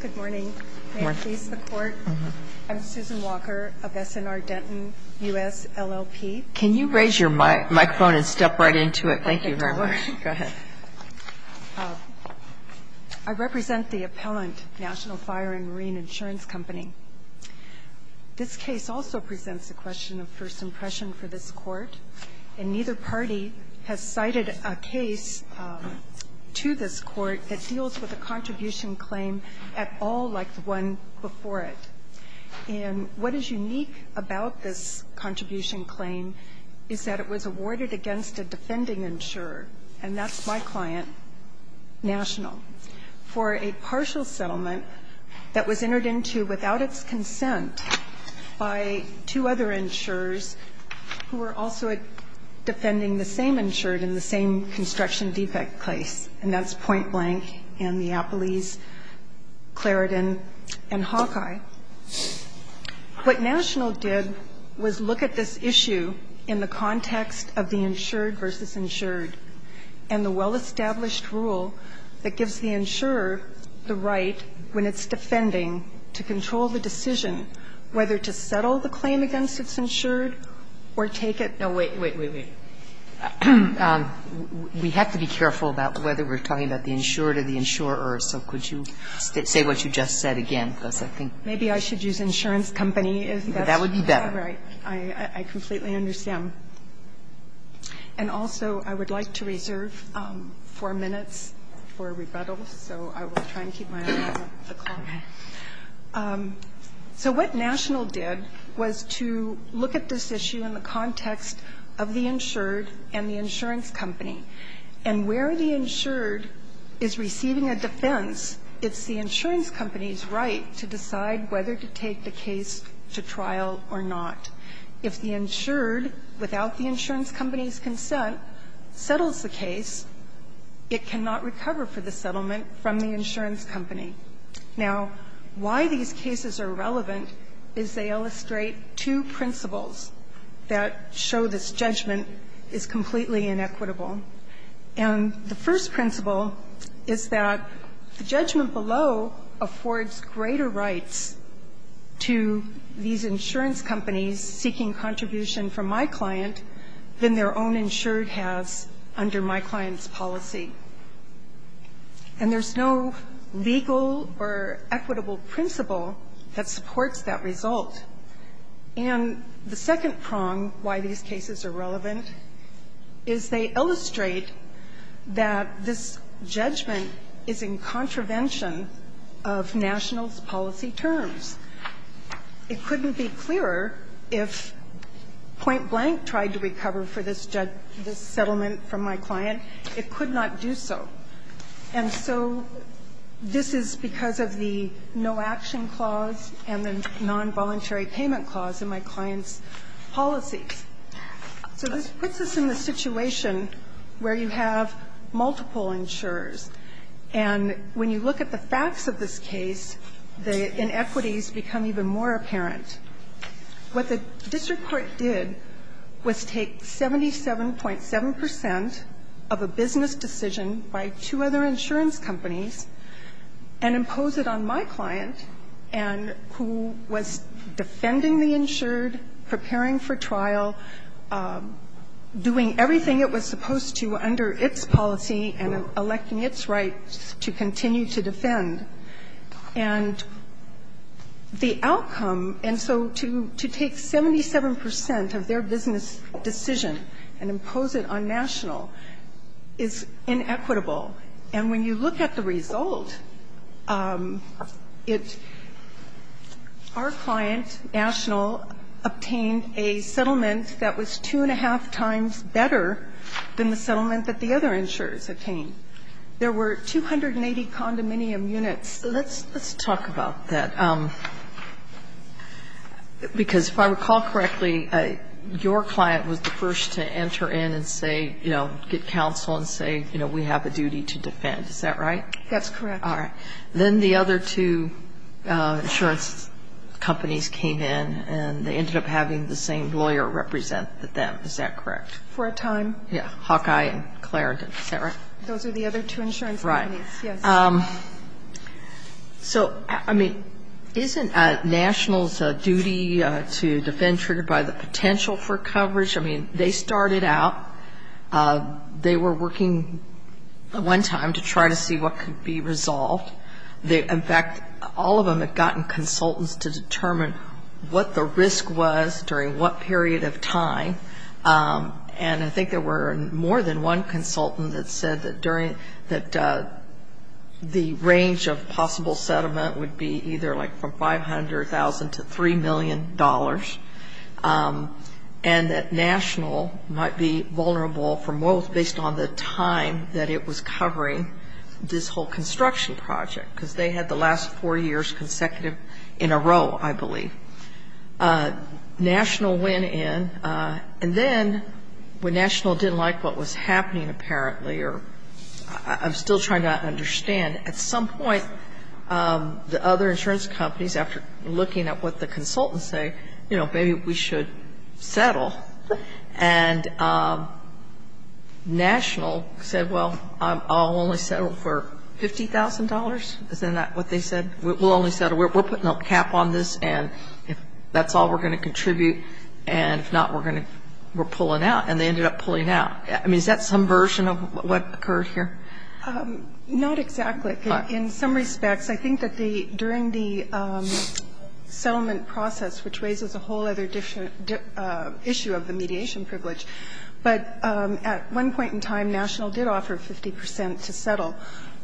Good morning. May I please the court? I'm Susan Walker of S&R Denton, U.S. LLP. Can you raise your microphone and step right into it? Thank you very much. I represent the appellant, National Fire and Marine Insurance Company. This case also presents the question of first impression for this court, and neither party has cited a case to this court that deals with a contribution claim at all like the one before it. And what is unique about this contribution claim is that it was awarded against a defending insurer, and that's my client, National, for a partial settlement that was entered into without its consent by two other insurers who were also defending the same insured in the same construction defect case, and that's Point Blank and Neapolis, Clarendon and Hawkeye. What National did was look at this issue in the context of the insured versus insured and the well-established rule that gives the insurer the right, when it's defending, to control the decision whether to settle the claim against its insured or take it no, wait, wait, wait, wait. We have to be careful about whether we're talking about the insured or the insurer. So could you say what you just said again, because I think that's better. Maybe I should use insurance company. That would be better. Right. I completely understand. And also, I would like to reserve four minutes for rebuttal, so I will try and keep my eye on the clock. So what National did was to look at this issue in the context of the insured and the insurance company, and where the insured is receiving a defense, it's the insurance company's right to decide whether to take the case to trial or not. If the insured, without the insurance company's consent, settles the case, it cannot recover for the settlement from the insurance company. Now, why these cases are relevant is they illustrate two principles that show this judgment is completely inequitable. And the first principle is that the judgment below affords greater rights to these insurance companies seeking contribution from my client than their own insured has under my client's policy. And there's no legal or equitable principle that supports that result. And the second prong why these cases are relevant is they illustrate that this judgment is in contravention of National's policy terms. It couldn't be clearer if point blank tried to recover for this judgment, this settlement from my client, it could not do so. And so this is because of the no action clause and the nonvoluntary payment clause in my client's policy. So this puts us in the situation where you have multiple insurers. And when you look at the facts of this case, the inequities become even more apparent. What the district court did was take 77.7 percent of a business decision by two other insurance companies and impose it on my client, and who was defending the insured, preparing for trial, doing everything it was supposed to under its policy and electing its rights to continue to defend. And the outcome, and so to take 77 percent of their business decision and impose it on National is inequitable. And when you look at the result, it – our client, National, obtained a settlement that was two and a half times better than the settlement that the other insurers obtained. There were 280 condominium units. So let's talk about that, because if I recall correctly, your client was the first to enter in and say, you know, get counsel and say, you know, we have a duty to defend. Is that right? That's correct. All right. Then the other two insurance companies came in, and they ended up having the same lawyer represent them. Is that correct? For a time. Yeah. Hawkeye and Clare, is that right? Those are the other two insurance companies. Right. Yes. So, I mean, isn't National's duty to defend triggered by the potential for coverage? I mean, they started out – they were working one time to try to see what could be resolved. In fact, all of them had gotten consultants to determine what the risk was during what period of time. And I think there were more than one consultant that said that during – that the range of possible settlement would be either like from $500,000 to $3 million, and that National might be vulnerable from what was based on the time that it was covering this whole construction project, because they had the last four years consecutive in a row, I believe. National went in, and then when National didn't like what was happening apparently, or – I'm still trying to understand. At some point, the other insurance companies, after looking at what the consultants say, you know, maybe we should settle. And National said, well, I'll only settle for $50,000. Isn't that what they said? We'll only settle. We're putting a cap on this, and if that's all we're going to contribute, and if not, we're going to – we're pulling out. And they ended up pulling out. I mean, is that some version of what occurred here? Not exactly. In some respects, I think that during the settlement process, which raises a whole other issue of the mediation privilege, but at one point in time, National did offer 50 percent to settle.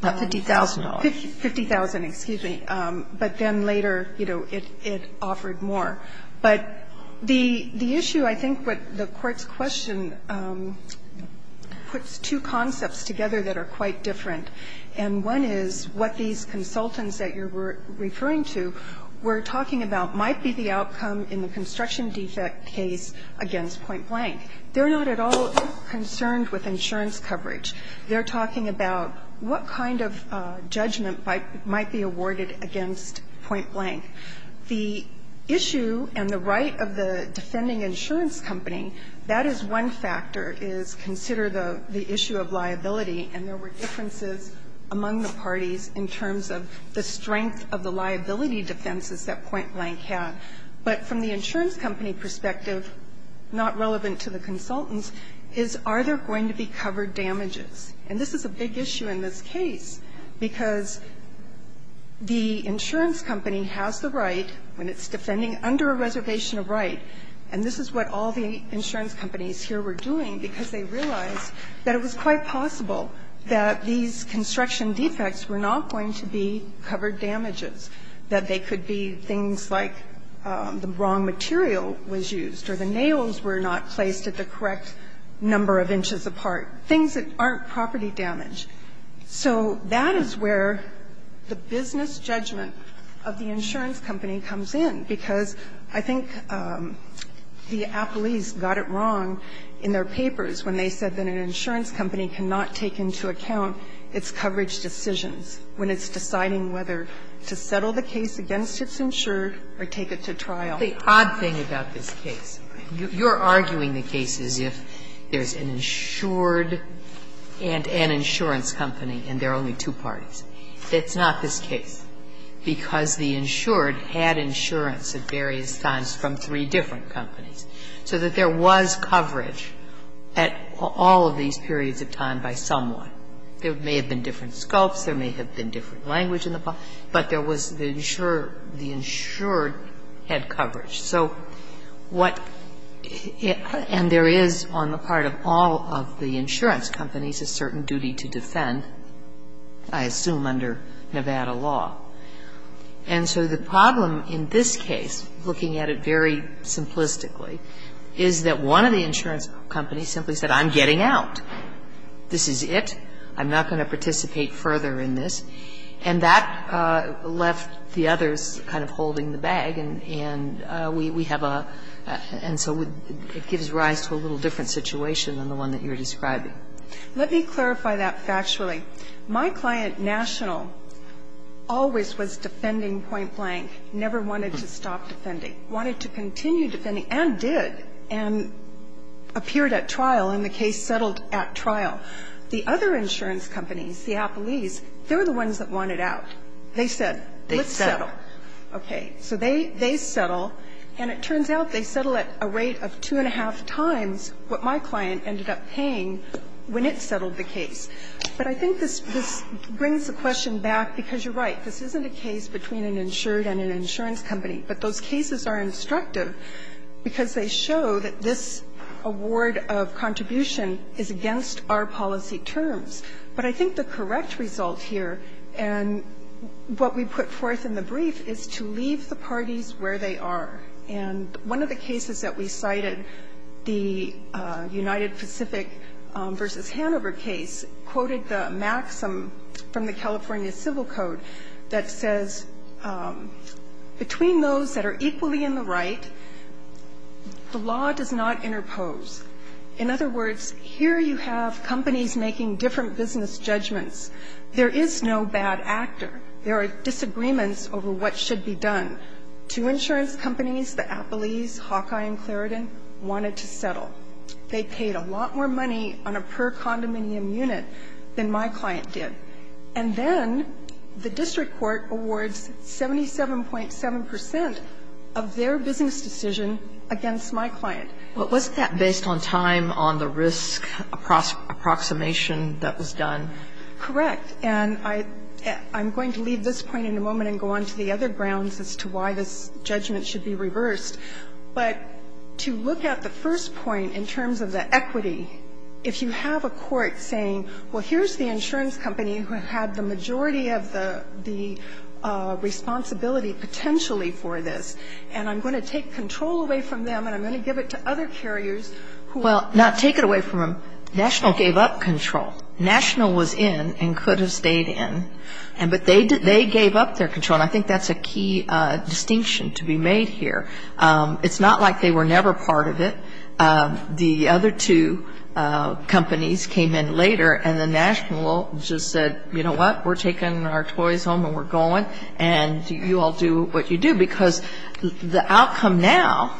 Not $50,000. $50,000, excuse me. But then later, you know, it offered more. But the issue, I think what the Court's question puts two concepts together that are quite different. And one is what these consultants that you're referring to were talking about might be the outcome in the construction defect case against Point Blank. They're not at all concerned with insurance coverage. They're talking about what kind of judgment might be awarded against Point Blank. The issue and the right of the defending insurance company, that is one factor, is consider the issue of liability. And there were differences among the parties in terms of the strength of the liability defenses that Point Blank had. But from the insurance company perspective, not relevant to the consultants, is are there going to be covered damages? And this is a big issue in this case, because the insurance company has the right when it's defending under a reservation of right, and this is what all the insurance companies here were doing because they realized that it was quite possible that these construction defects were not going to be covered damages, that they could be things like the wrong material was used or the nails were not placed at the correct number of inches apart, things that aren't property damage. So that is where the business judgment of the insurance company comes in, because I think the appellees got it wrong in their papers when they said that an insurance company cannot take into account its coverage decisions when it's deciding whether to settle the case against its insured or take it to trial. The odd thing about this case, you're arguing the case as if there's an insured and an insurance company and there are only two parties. That's not this case, because the insured had insurance at various times from three different companies, so that there was coverage at all of these periods of time by someone. There may have been different sculpts. There may have been different language, but there was the insured had coverage. So what, and there is on the part of all of the insurance companies a certain duty to defend, I assume under Nevada law. And so the problem in this case, looking at it very simplistically, is that one of the insurance companies simply said, I'm getting out. This is it. I'm not going to participate further in this. And that left the others kind of holding the bag, and we have a, and so it gives rise to a little different situation than the one that you're describing. Let me clarify that factually. My client, National, always was defending point blank, never wanted to stop defending. Wanted to continue defending, and did, and appeared at trial, and the case settled at trial. The other insurance companies, Seattle East, they were the ones that wanted out. They said, let's settle. Kagan. So they settle, and it turns out they settle at a rate of two and a half times what my client ended up paying when it settled the case. But I think this brings the question back, because you're right. This isn't a case between an insured and an insurance company, but those cases are instructive because they show that this award of contribution is against our policy terms. But I think the correct result here, and what we put forth in the brief, is to leave the parties where they are. And one of the cases that we cited, the United Pacific v. Hanover case, quoted the California Civil Code, that says, between those that are equally in the right, the law does not interpose. In other words, here you have companies making different business judgments. There is no bad actor. There are disagreements over what should be done. Two insurance companies, the Appleys, Hawkeye, and Claredon, wanted to settle. They paid a lot more money on a per condominium unit than my client did. And then the district court awards 77.7 percent of their business decision against my client. But wasn't that based on time, on the risk approximation that was done? Correct. And I'm going to leave this point in a moment and go on to the other grounds as to why this judgment should be reversed. But to look at the first point in terms of the equity, if you have a court saying, well, here's the insurance company who had the majority of the responsibility potentially for this, and I'm going to take control away from them and I'm going to give it to other carriers who are going to take it away from them. Well, not take it away from them. National gave up control. National was in and could have stayed in. But they gave up their control. And I think that's a key distinction to be made here. It's not like they were never part of it. The other two companies came in later and then National just said, you know what, we're taking our toys home and we're going and you all do what you do. Because the outcome now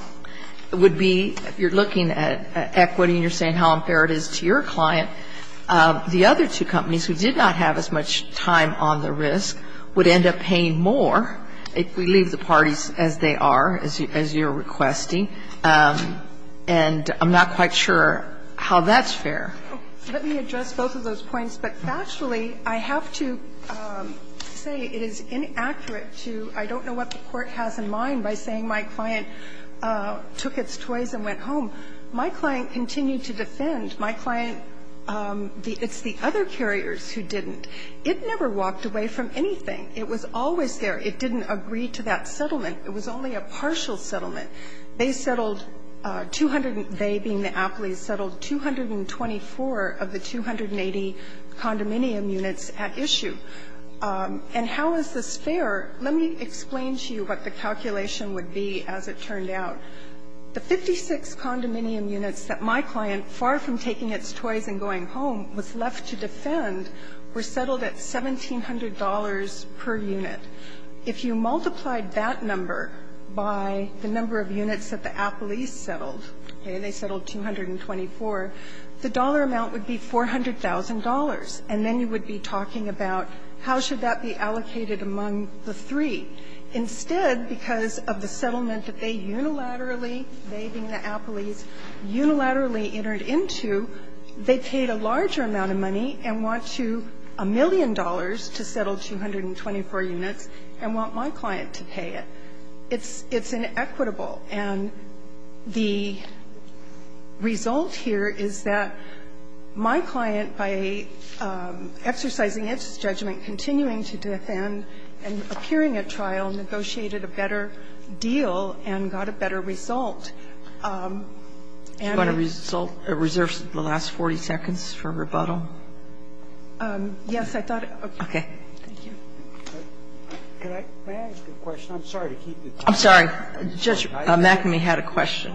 would be if you're looking at equity and you're saying how much time on the risk would end up paying more if we leave the parties as they are, as you're requesting. And I'm not quite sure how that's fair. Let me address both of those points. But factually, I have to say it is inaccurate to – I don't know what the court has in mind by saying my client took its toys and went home. My client continued to defend. My client – it's the other carriers who didn't. It never walked away from anything. It was always there. It didn't agree to that settlement. It was only a partial settlement. They settled 200 – they, being the Apleys, settled 224 of the 280 condominium units at issue. And how is this fair? Let me explain to you what the calculation would be as it turned out. The 56 condominium units that my client, far from taking its toys and going home, was left to defend were settled at $1,700 per unit. If you multiplied that number by the number of units that the Apleys settled, okay, they settled 224, the dollar amount would be $400,000. And then you would be talking about how should that be allocated among the three. Instead, because of the settlement that they unilaterally, they being the Apleys, unilaterally entered into, they paid a larger amount of money and want to – a million dollars to settle 224 units and want my client to pay it. It's inequitable. And the result here is that my client, by exercising its judgment, continuing to defend and appearing at trial, negotiated a better deal and got a better result. And I – Are you going to reserve the last 40 seconds for rebuttal? Yes. I thought – okay. Thank you. May I ask a question? I'm sorry to keep you talking. I'm sorry. Judge McAmey had a question.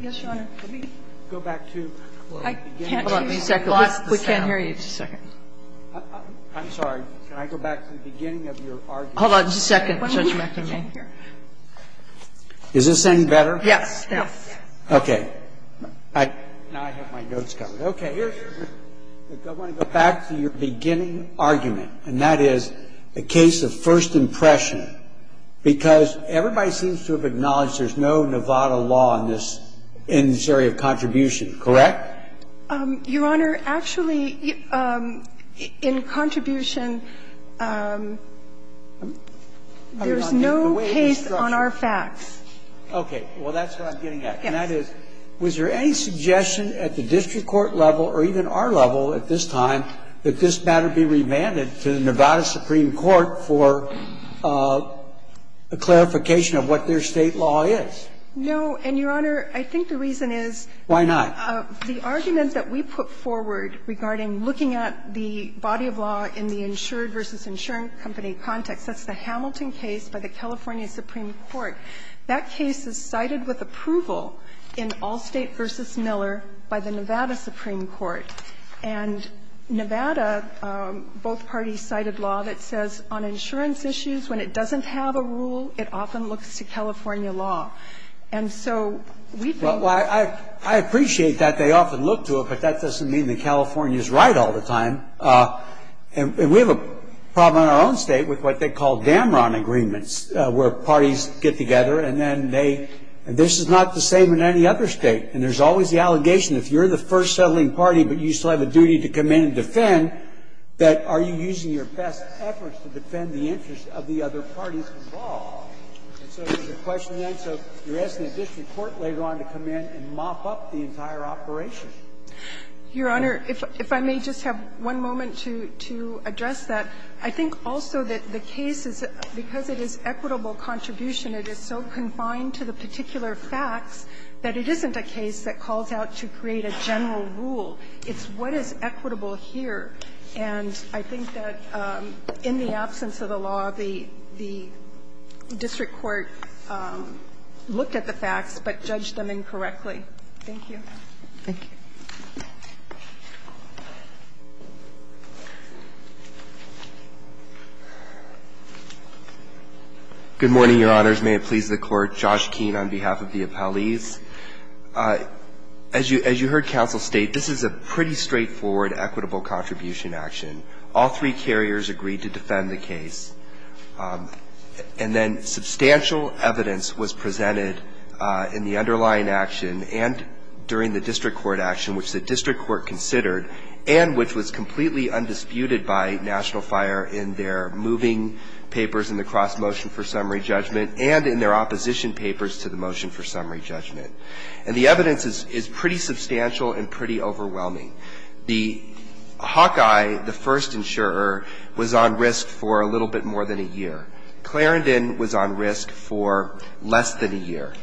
Yes, Your Honor. Let me go back to – I can't hear you. Hold on a second. We can't hear you. Just a second. I'm sorry. Can I go back to the beginning of your argument? Hold on just a second, Judge McAmey. Is this any better? Yes. Yes. Okay. Now I have my notes covered. Okay. I want to go back to your beginning argument, and that is a case of first impression, because everybody seems to have acknowledged there's no Nevada law in this area of contribution, correct? Your Honor, actually, in contribution, there's no case on our facts. Okay. Well, that's what I'm getting at. Yes. And that is, was there any suggestion at the district court level or even our level at this time that this matter be remanded to the Nevada Supreme Court for a clarification of what their state law is? No. And, Your Honor, I think the reason is – Why not? The argument that we put forward regarding looking at the body of law in the insured versus insurance company context, that's the Hamilton case by the California Supreme Court. That case is cited with approval in Allstate v. Miller by the Nevada Supreme Court. And Nevada, both parties cited law that says on insurance issues, when it doesn't have a rule, it often looks to California law. And so we think – Well, I appreciate that they often look to it, but that doesn't mean that California is right all the time. And we have a problem in our own state with what they call Damron Agreements, where parties get together and then they – and this is not the same in any other state. And there's always the allegation, if you're the first settling party but you still have a duty to come in and defend, that are you using your best efforts to defend the interests of the other parties involved? And so there's a question then, so you're asking the district court later on to come in and mop up the entire operation. Your Honor, if I may just have one moment to address that. I think also that the case is – because it is equitable contribution, it is so confined to the particular facts that it isn't a case that calls out to create a general rule. It's what is equitable here. And I think that in the absence of the law, the district court looked at the facts but judged them incorrectly. Thank you. Thank you. Good morning, Your Honors. May it please the Court. Josh Keane on behalf of the appellees. As you heard counsel state, this is a pretty straightforward equitable contribution action. All three carriers agreed to defend the case. And then substantial evidence was presented in the underlying action and during the district court action, which the district court considered and which was completely undisputed by National Fire in their moving papers in the cross motion for summary judgment and in their opposition papers to the motion for summary judgment. And the evidence is pretty substantial and pretty overwhelming. The Hawkeye, the first insurer, was on risk for a little bit more than a year. Clarendon was on risk for less than a year.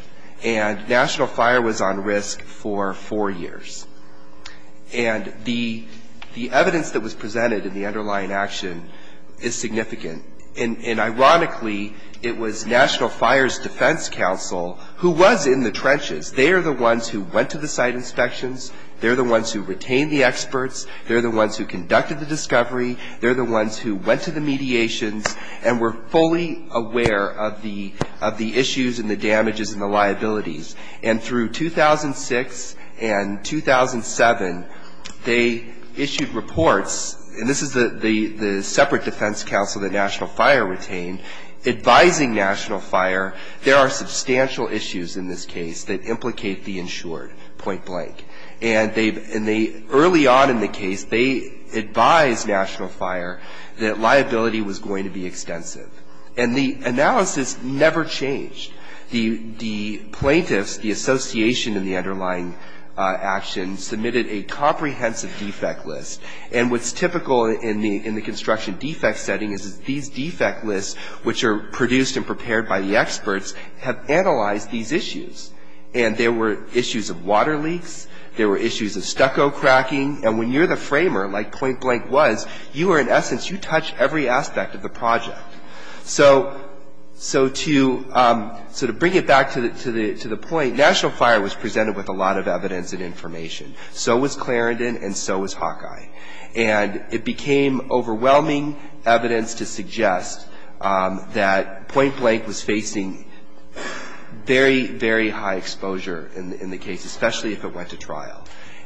And National Fire was on risk for four years. And the evidence that was presented in the underlying action is significant. And ironically, it was National Fire's defense counsel who was in the trenches. They are the ones who went to the site inspections. They're the ones who retained the experts. They're the ones who conducted the discovery. They're the ones who went to the mediations and were fully aware of the issues and the damages and the liabilities. And through 2006 and 2007, they issued reports. And this is the separate defense counsel that National Fire retained, advising National Fire there are substantial issues in this case that implicate the insured, point blank. And early on in the case, they advised National Fire that liability was going to be extensive. And the analysis never changed. The plaintiffs, the association in the underlying action, submitted a comprehensive defect list. And what's typical in the construction defect setting is these defect lists, which are produced and prepared by the experts, have analyzed these issues. And there were issues of water leaks. There were issues of stucco cracking. And when you're the framer, like point blank was, you are in essence, you touch every aspect of the project. So to bring it back to the point, National Fire was presented with a lot of evidence and information. So was Clarendon and so was Hawkeye. And it became overwhelming evidence to suggest that point blank was facing very, very high exposure in the case, especially if it went to trial.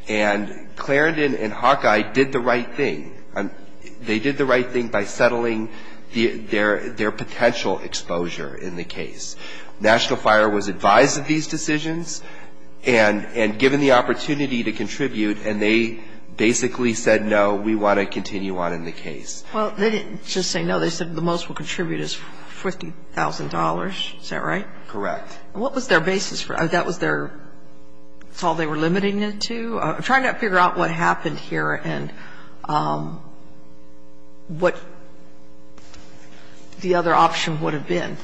And Clarendon and Hawkeye did the right thing. They did the right thing by settling their potential exposure in the case. National Fire was advised of these decisions and given the opportunity to contribute. And they basically said, no, we want to continue on in the case. Well, they didn't just say no. They said the most we'll contribute is $50,000. Is that right? Correct. And what was their basis? That was their, that's all they were limiting it to? I'm trying to figure out what happened here and what the other option would have been.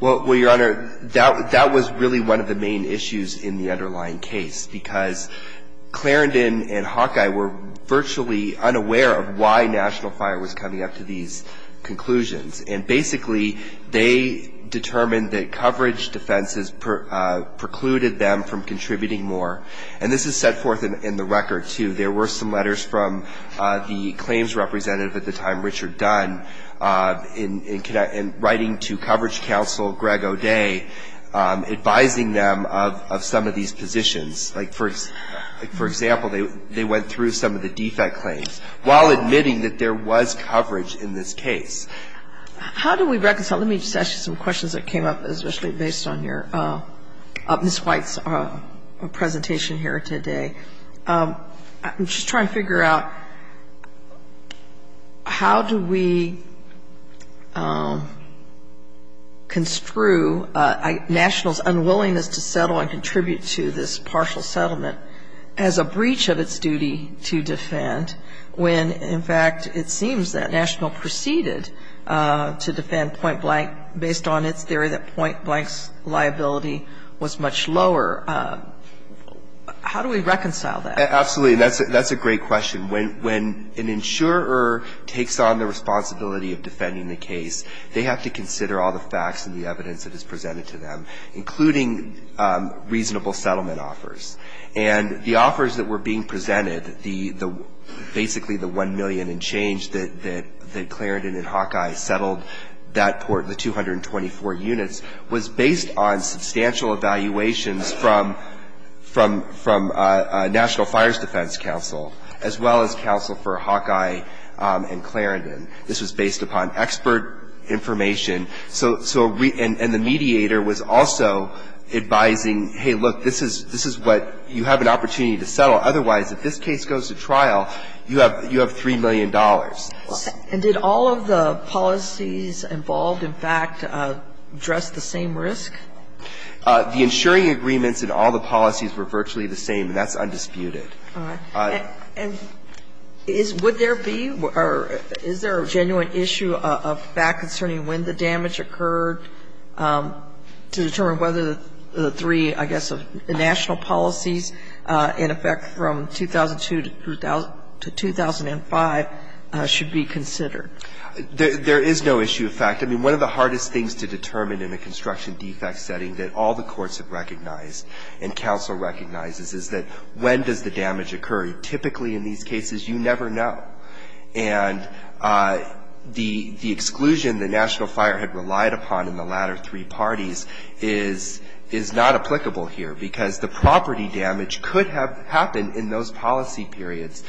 Well, Your Honor, that was really one of the main issues in the underlying case because Clarendon and Hawkeye were virtually unaware of why National Fire was coming up to these conclusions. And basically, they determined that coverage defenses precluded them from contributing more. And this is set forth in the record, too. There were some letters from the claims representative at the time, Richard Dunn, in writing to coverage counsel, Greg O'Day, advising them of some of these positions. Like, for example, they went through some of the defect claims while admitting that there was coverage in this case. How do we reconcile? Let me just ask you some questions that came up, especially based on your, Ms. White's presentation here today. I'm just trying to figure out how do we construe National's unwillingness to settle and contribute to this partial settlement as a breach of its duty to defend when, in fact, it seems that National proceeded to defend Point Blank based on its theory that Point Blank's liability was much lower. How do we reconcile that? Absolutely. That's a great question. When an insurer takes on the responsibility of defending the case, they have to consider all the facts and the evidence that is presented to them, including reasonable settlement offers. And the offers that were being presented, basically the 1 million and change that Clarendon and Hawkeye settled that port, the 224 units, was based on substantial evaluations from National Fires Defense Council, as well as counsel for Hawkeye and Clarendon. This was based upon expert information. And the mediator was also advising, hey, look, this is what you have an opportunity to settle. Otherwise, if this case goes to trial, you have $3 million. And did all of the policies involved, in fact, address the same risk? The insuring agreements and all the policies were virtually the same, and that's undisputed. All right. And would there be or is there a genuine issue of fact concerning when the damage occurred to determine whether the three, I guess, national policies in effect from 2002 to 2005 should be considered? There is no issue of fact. I mean, one of the hardest things to determine in a construction defect setting that all the courts have recognized and counsel recognizes is that when does the damage occur? Typically, in these cases, you never know. And the exclusion the national fire had relied upon in the latter three parties is not applicable here because the property damage could have happened in those policy periods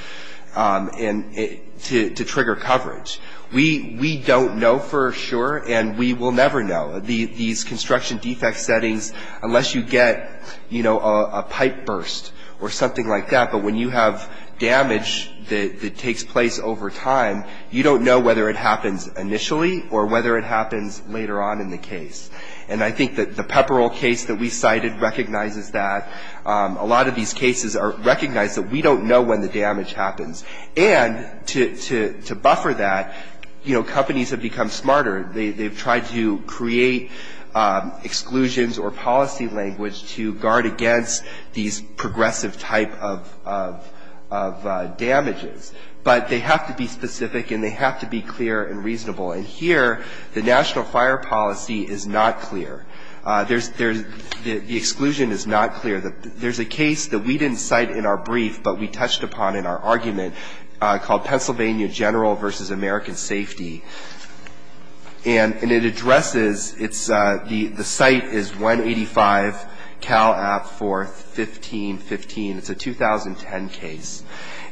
to trigger coverage. We don't know for sure, and we will never know. These construction defect settings, unless you get, you know, a pipe burst or something like that, but when you have damage that takes place over time, you don't know whether it happens initially or whether it happens later on in the case. And I think that the Pepperell case that we cited recognizes that. A lot of these cases recognize that we don't know when the damage happens. And to buffer that, you know, companies have become smarter. They've tried to create exclusions or policy language to guard against these progressive type of damages. But they have to be specific and they have to be clear and reasonable. And here, the national fire policy is not clear. There's the exclusion is not clear. There's a case that we didn't cite in our brief but we touched upon in our argument called Pennsylvania General versus American Safety. And it addresses, it's, the site is 185 Cal App 41515. It's a 2010 case.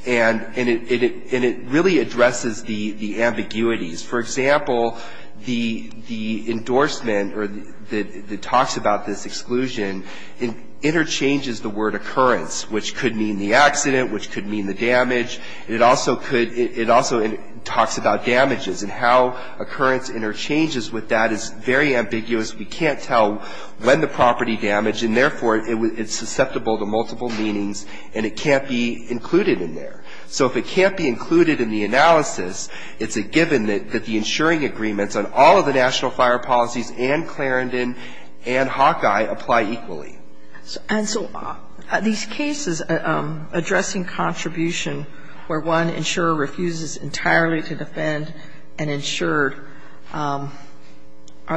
And it really addresses the ambiguities. For example, the endorsement that talks about this exclusion, it interchanges the word occurrence, which could mean the accident, which could mean the damage. It also could, it also talks about damages and how occurrence interchanges with that is very ambiguous. We can't tell when the property damaged. And therefore, it's susceptible to multiple meanings and it can't be included in there. So if it can't be included in the analysis, it's a given that the insuring agreements on all of the national fire policies and Clarendon and Hawkeye apply equally. And so these cases addressing contribution where one insurer refuses entirely to defend an insured, are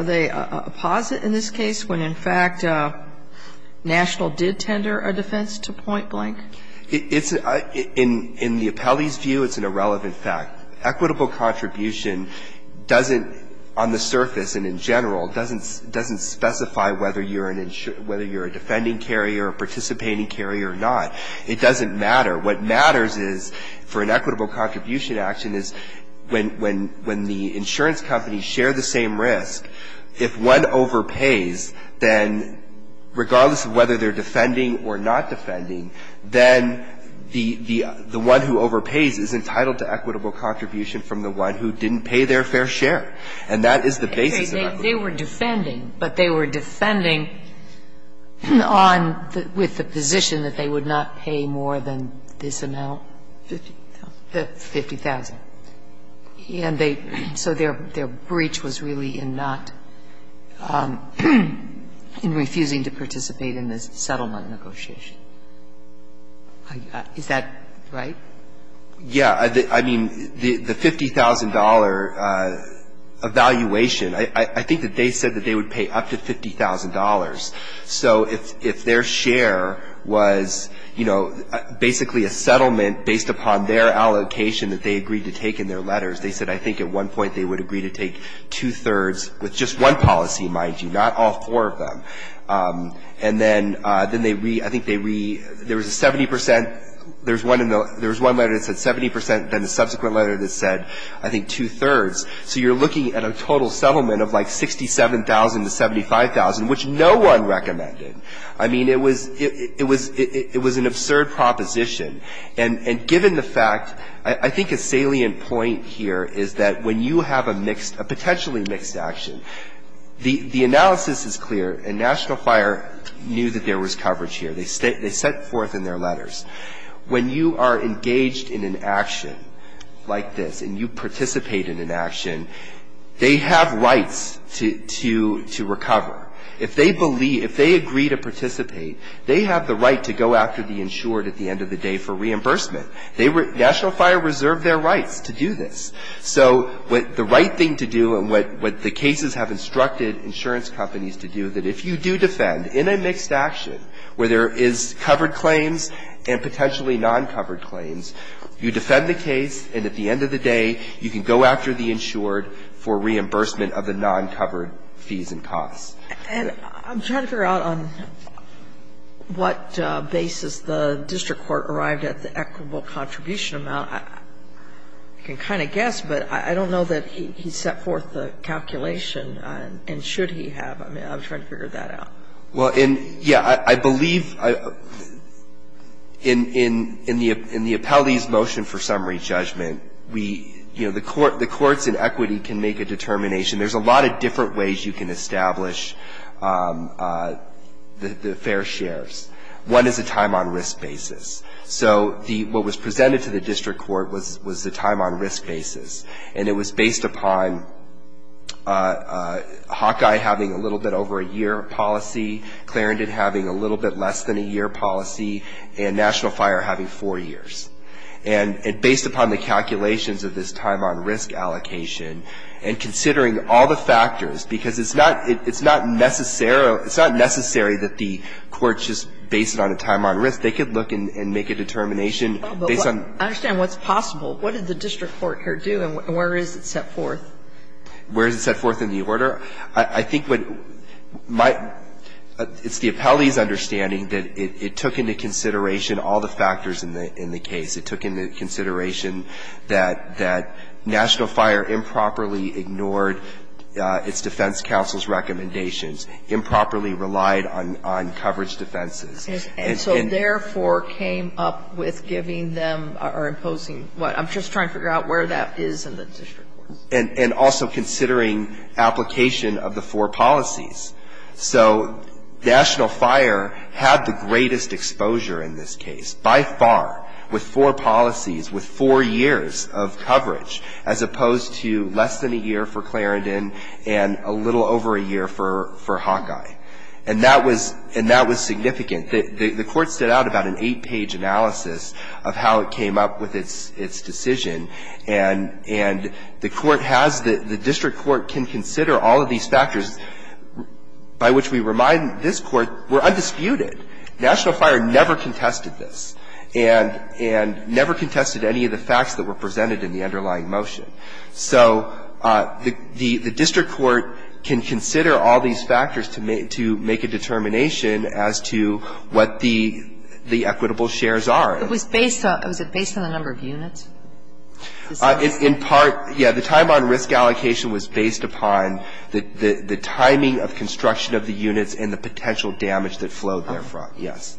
they apposite in this case when, in fact, National did tender a defense to point blank? It's, in the appellee's view, it's an irrelevant fact. Equitable contribution doesn't, on the surface and in general, doesn't specify whether you're a defending carrier or participating carrier or not. It doesn't matter. What matters is for an equitable contribution action is when the insurance companies share the same risk, if one overpays, then regardless of whether they're defending or not defending, then the one who overpays is entitled to equitable contribution from the one who didn't pay their fair share. And that is the basis of equity. They were defending, but they were defending on with the position that they would not pay more than this amount, 50,000. And they, so their breach was really in not, in refusing to participate in the settlement negotiation. Is that right? Yeah. I mean, the $50,000 evaluation, I think that they said that they would pay up to $50,000. So if their share was, you know, basically a settlement based upon their allocation that they agreed to take in their letters, they said I think at one point they would agree to take two-thirds with just one policy, mind you, not all four of them. And then they re, I think they re, there was a 70 percent, there was one letter that said 70 percent, then a subsequent letter that said I think two-thirds. So you're looking at a total settlement of like 67,000 to 75,000, which no one recommended. I mean, it was an absurd proposition. And given the fact, I think a salient point here is that when you have a mixed, a potentially mixed action, the analysis is clear and National Fire knew that there was coverage here. They set forth in their letters. When you are engaged in an action like this and you participate in an action, they have rights to recover. If they believe, if they agree to participate, they have the right to go after the insured at the end of the day for reimbursement. They were, National Fire reserved their rights to do this. So what the right thing to do and what the cases have instructed insurance companies to do, that if you do defend in a mixed action where there is covered claims and potentially non-covered claims, you defend the case and at the end of the day, you can go after the insured for reimbursement of the non-covered fees and costs. And I'm trying to figure out on what basis the district court arrived at the equitable contribution amount. I can kind of guess, but I don't know that he set forth the calculation and should he have. I'm trying to figure that out. Well, yeah, I believe in the appellee's motion for summary judgment, we, you know, the courts in equity can make a determination. There's a lot of different ways you can establish the fair shares. One is a time on risk basis. So what was presented to the district court was the time on risk basis. And it was based upon Hawkeye having a little bit over a year of policy, Clarendon having a little bit less than a year of policy, and National Fire having four years. And based upon the calculations of this time on risk allocation and considering all the factors, because it's not necessary that the courts just base it on a time on risk, they could look and make a determination based on. I understand what's possible. What did the district court here do and where is it set forth? Where is it set forth in the order? I think what my – it's the appellee's understanding that it took into consideration all the factors in the case. It took into consideration that National Fire improperly ignored its defense counsel's recommendations, improperly relied on coverage defenses. And so therefore came up with giving them or imposing what? I'm just trying to figure out where that is in the district court. And also considering application of the four policies. So National Fire had the greatest exposure in this case by far with four policies, with four years of coverage as opposed to less than a year for Clarendon and a little over a year for Hawkeye. And that was – and that was significant. The court stood out about an eight-page analysis of how it came up with its decision. And the court has – the district court can consider all of these factors, by which we remind this Court, were undisputed. National Fire never contested this and never contested any of the facts that were presented in the underlying motion. So the district court can consider all these factors to make a determination as to what the equitable shares are. It was based on – was it based on the number of units? In part, yes. The time on risk allocation was based upon the timing of construction of the units and the potential damage that flowed therefrom. Yes.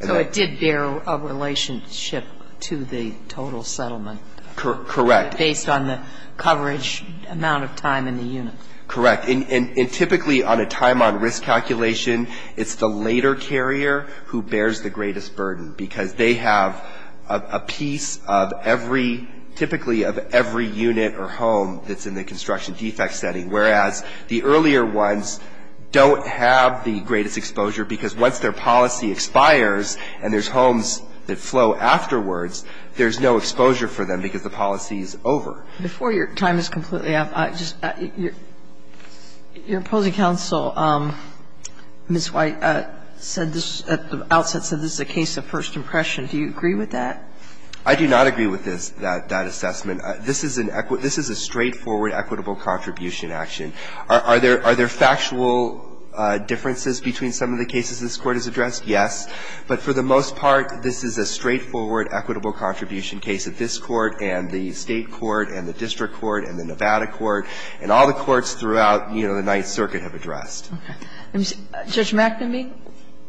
So it did bear a relationship to the total settlement. Correct. Based on the coverage amount of time in the units. Correct. And typically on a time on risk calculation, it's the later carrier who bears the greatest burden, because they have a piece of every – typically of every unit or home that's in the construction defect setting, whereas the earlier ones don't have the greatest exposure, because once their policy expires and there's homes that flow afterwards, there's no exposure for them because the policy is over. Before your time is completely up, I just – your opposing counsel, Ms. White, said this – at the outset said this is a case of first impression. Do you agree with that? I do not agree with this – that assessment. This is an – this is a straightforward equitable contribution action. Are there factual differences between some of the cases this Court has addressed? But for the most part, this is a straightforward equitable contribution case that this Court and the State Court and the District Court and the Nevada Court and all the courts throughout, you know, the Ninth Circuit have addressed. Okay. Judge McNamee,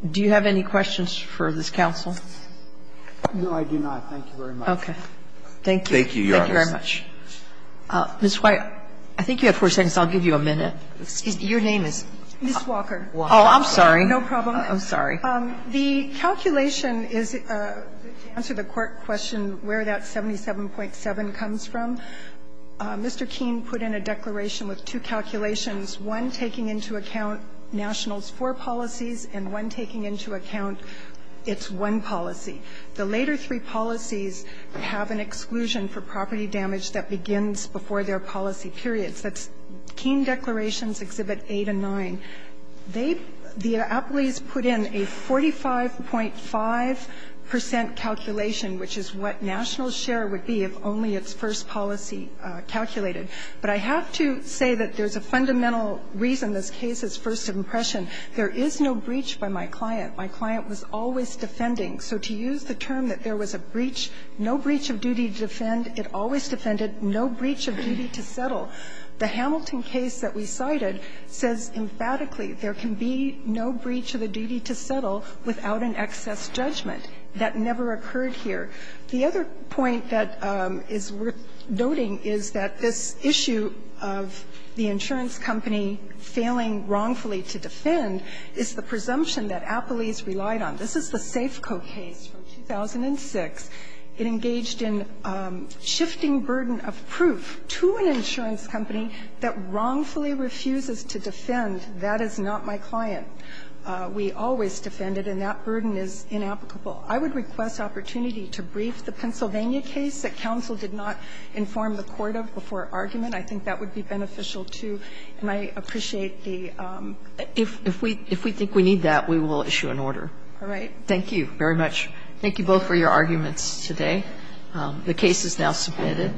do you have any questions for this counsel? No, I do not. Thank you very much. Okay. Thank you. Thank you, Your Honor. Thank you very much. Ms. White, I think you have four seconds. I'll give you a minute. Excuse me. Your name is? Ms. Walker. Oh, I'm sorry. No problem. Oh, sorry. The calculation is – to answer the Court question where that 77.7 comes from, Mr. Keene put in a declaration with two calculations, one taking into account Nationals' four policies and one taking into account its one policy. The later three policies have an exclusion for property damage that begins before their policy periods. That's Keene Declarations, Exhibit 8 and 9. They – the appellees put in a 45.5 percent calculation, which is what Nationals' share would be if only its first policy calculated. But I have to say that there's a fundamental reason this case is first impression. There is no breach by my client. My client was always defending. So to use the term that there was a breach, no breach of duty to defend, it always defended, no breach of duty to settle. The Hamilton case that we cited says emphatically there can be no breach of the duty to settle without an excess judgment. That never occurred here. The other point that is worth noting is that this issue of the insurance company failing wrongfully to defend is the presumption that appellees relied on. This is the Safeco case from 2006. It engaged in shifting burden of proof to an insurance company that wrongfully refuses to defend. That is not my client. We always defended, and that burden is inapplicable. I would request opportunity to brief the Pennsylvania case that counsel did not inform the Court of before argument. I think that would be beneficial, too. And I appreciate the – If we think we need that, we will issue an order. All right. Thank you very much. Thank you both for your arguments today. The case is now submitted.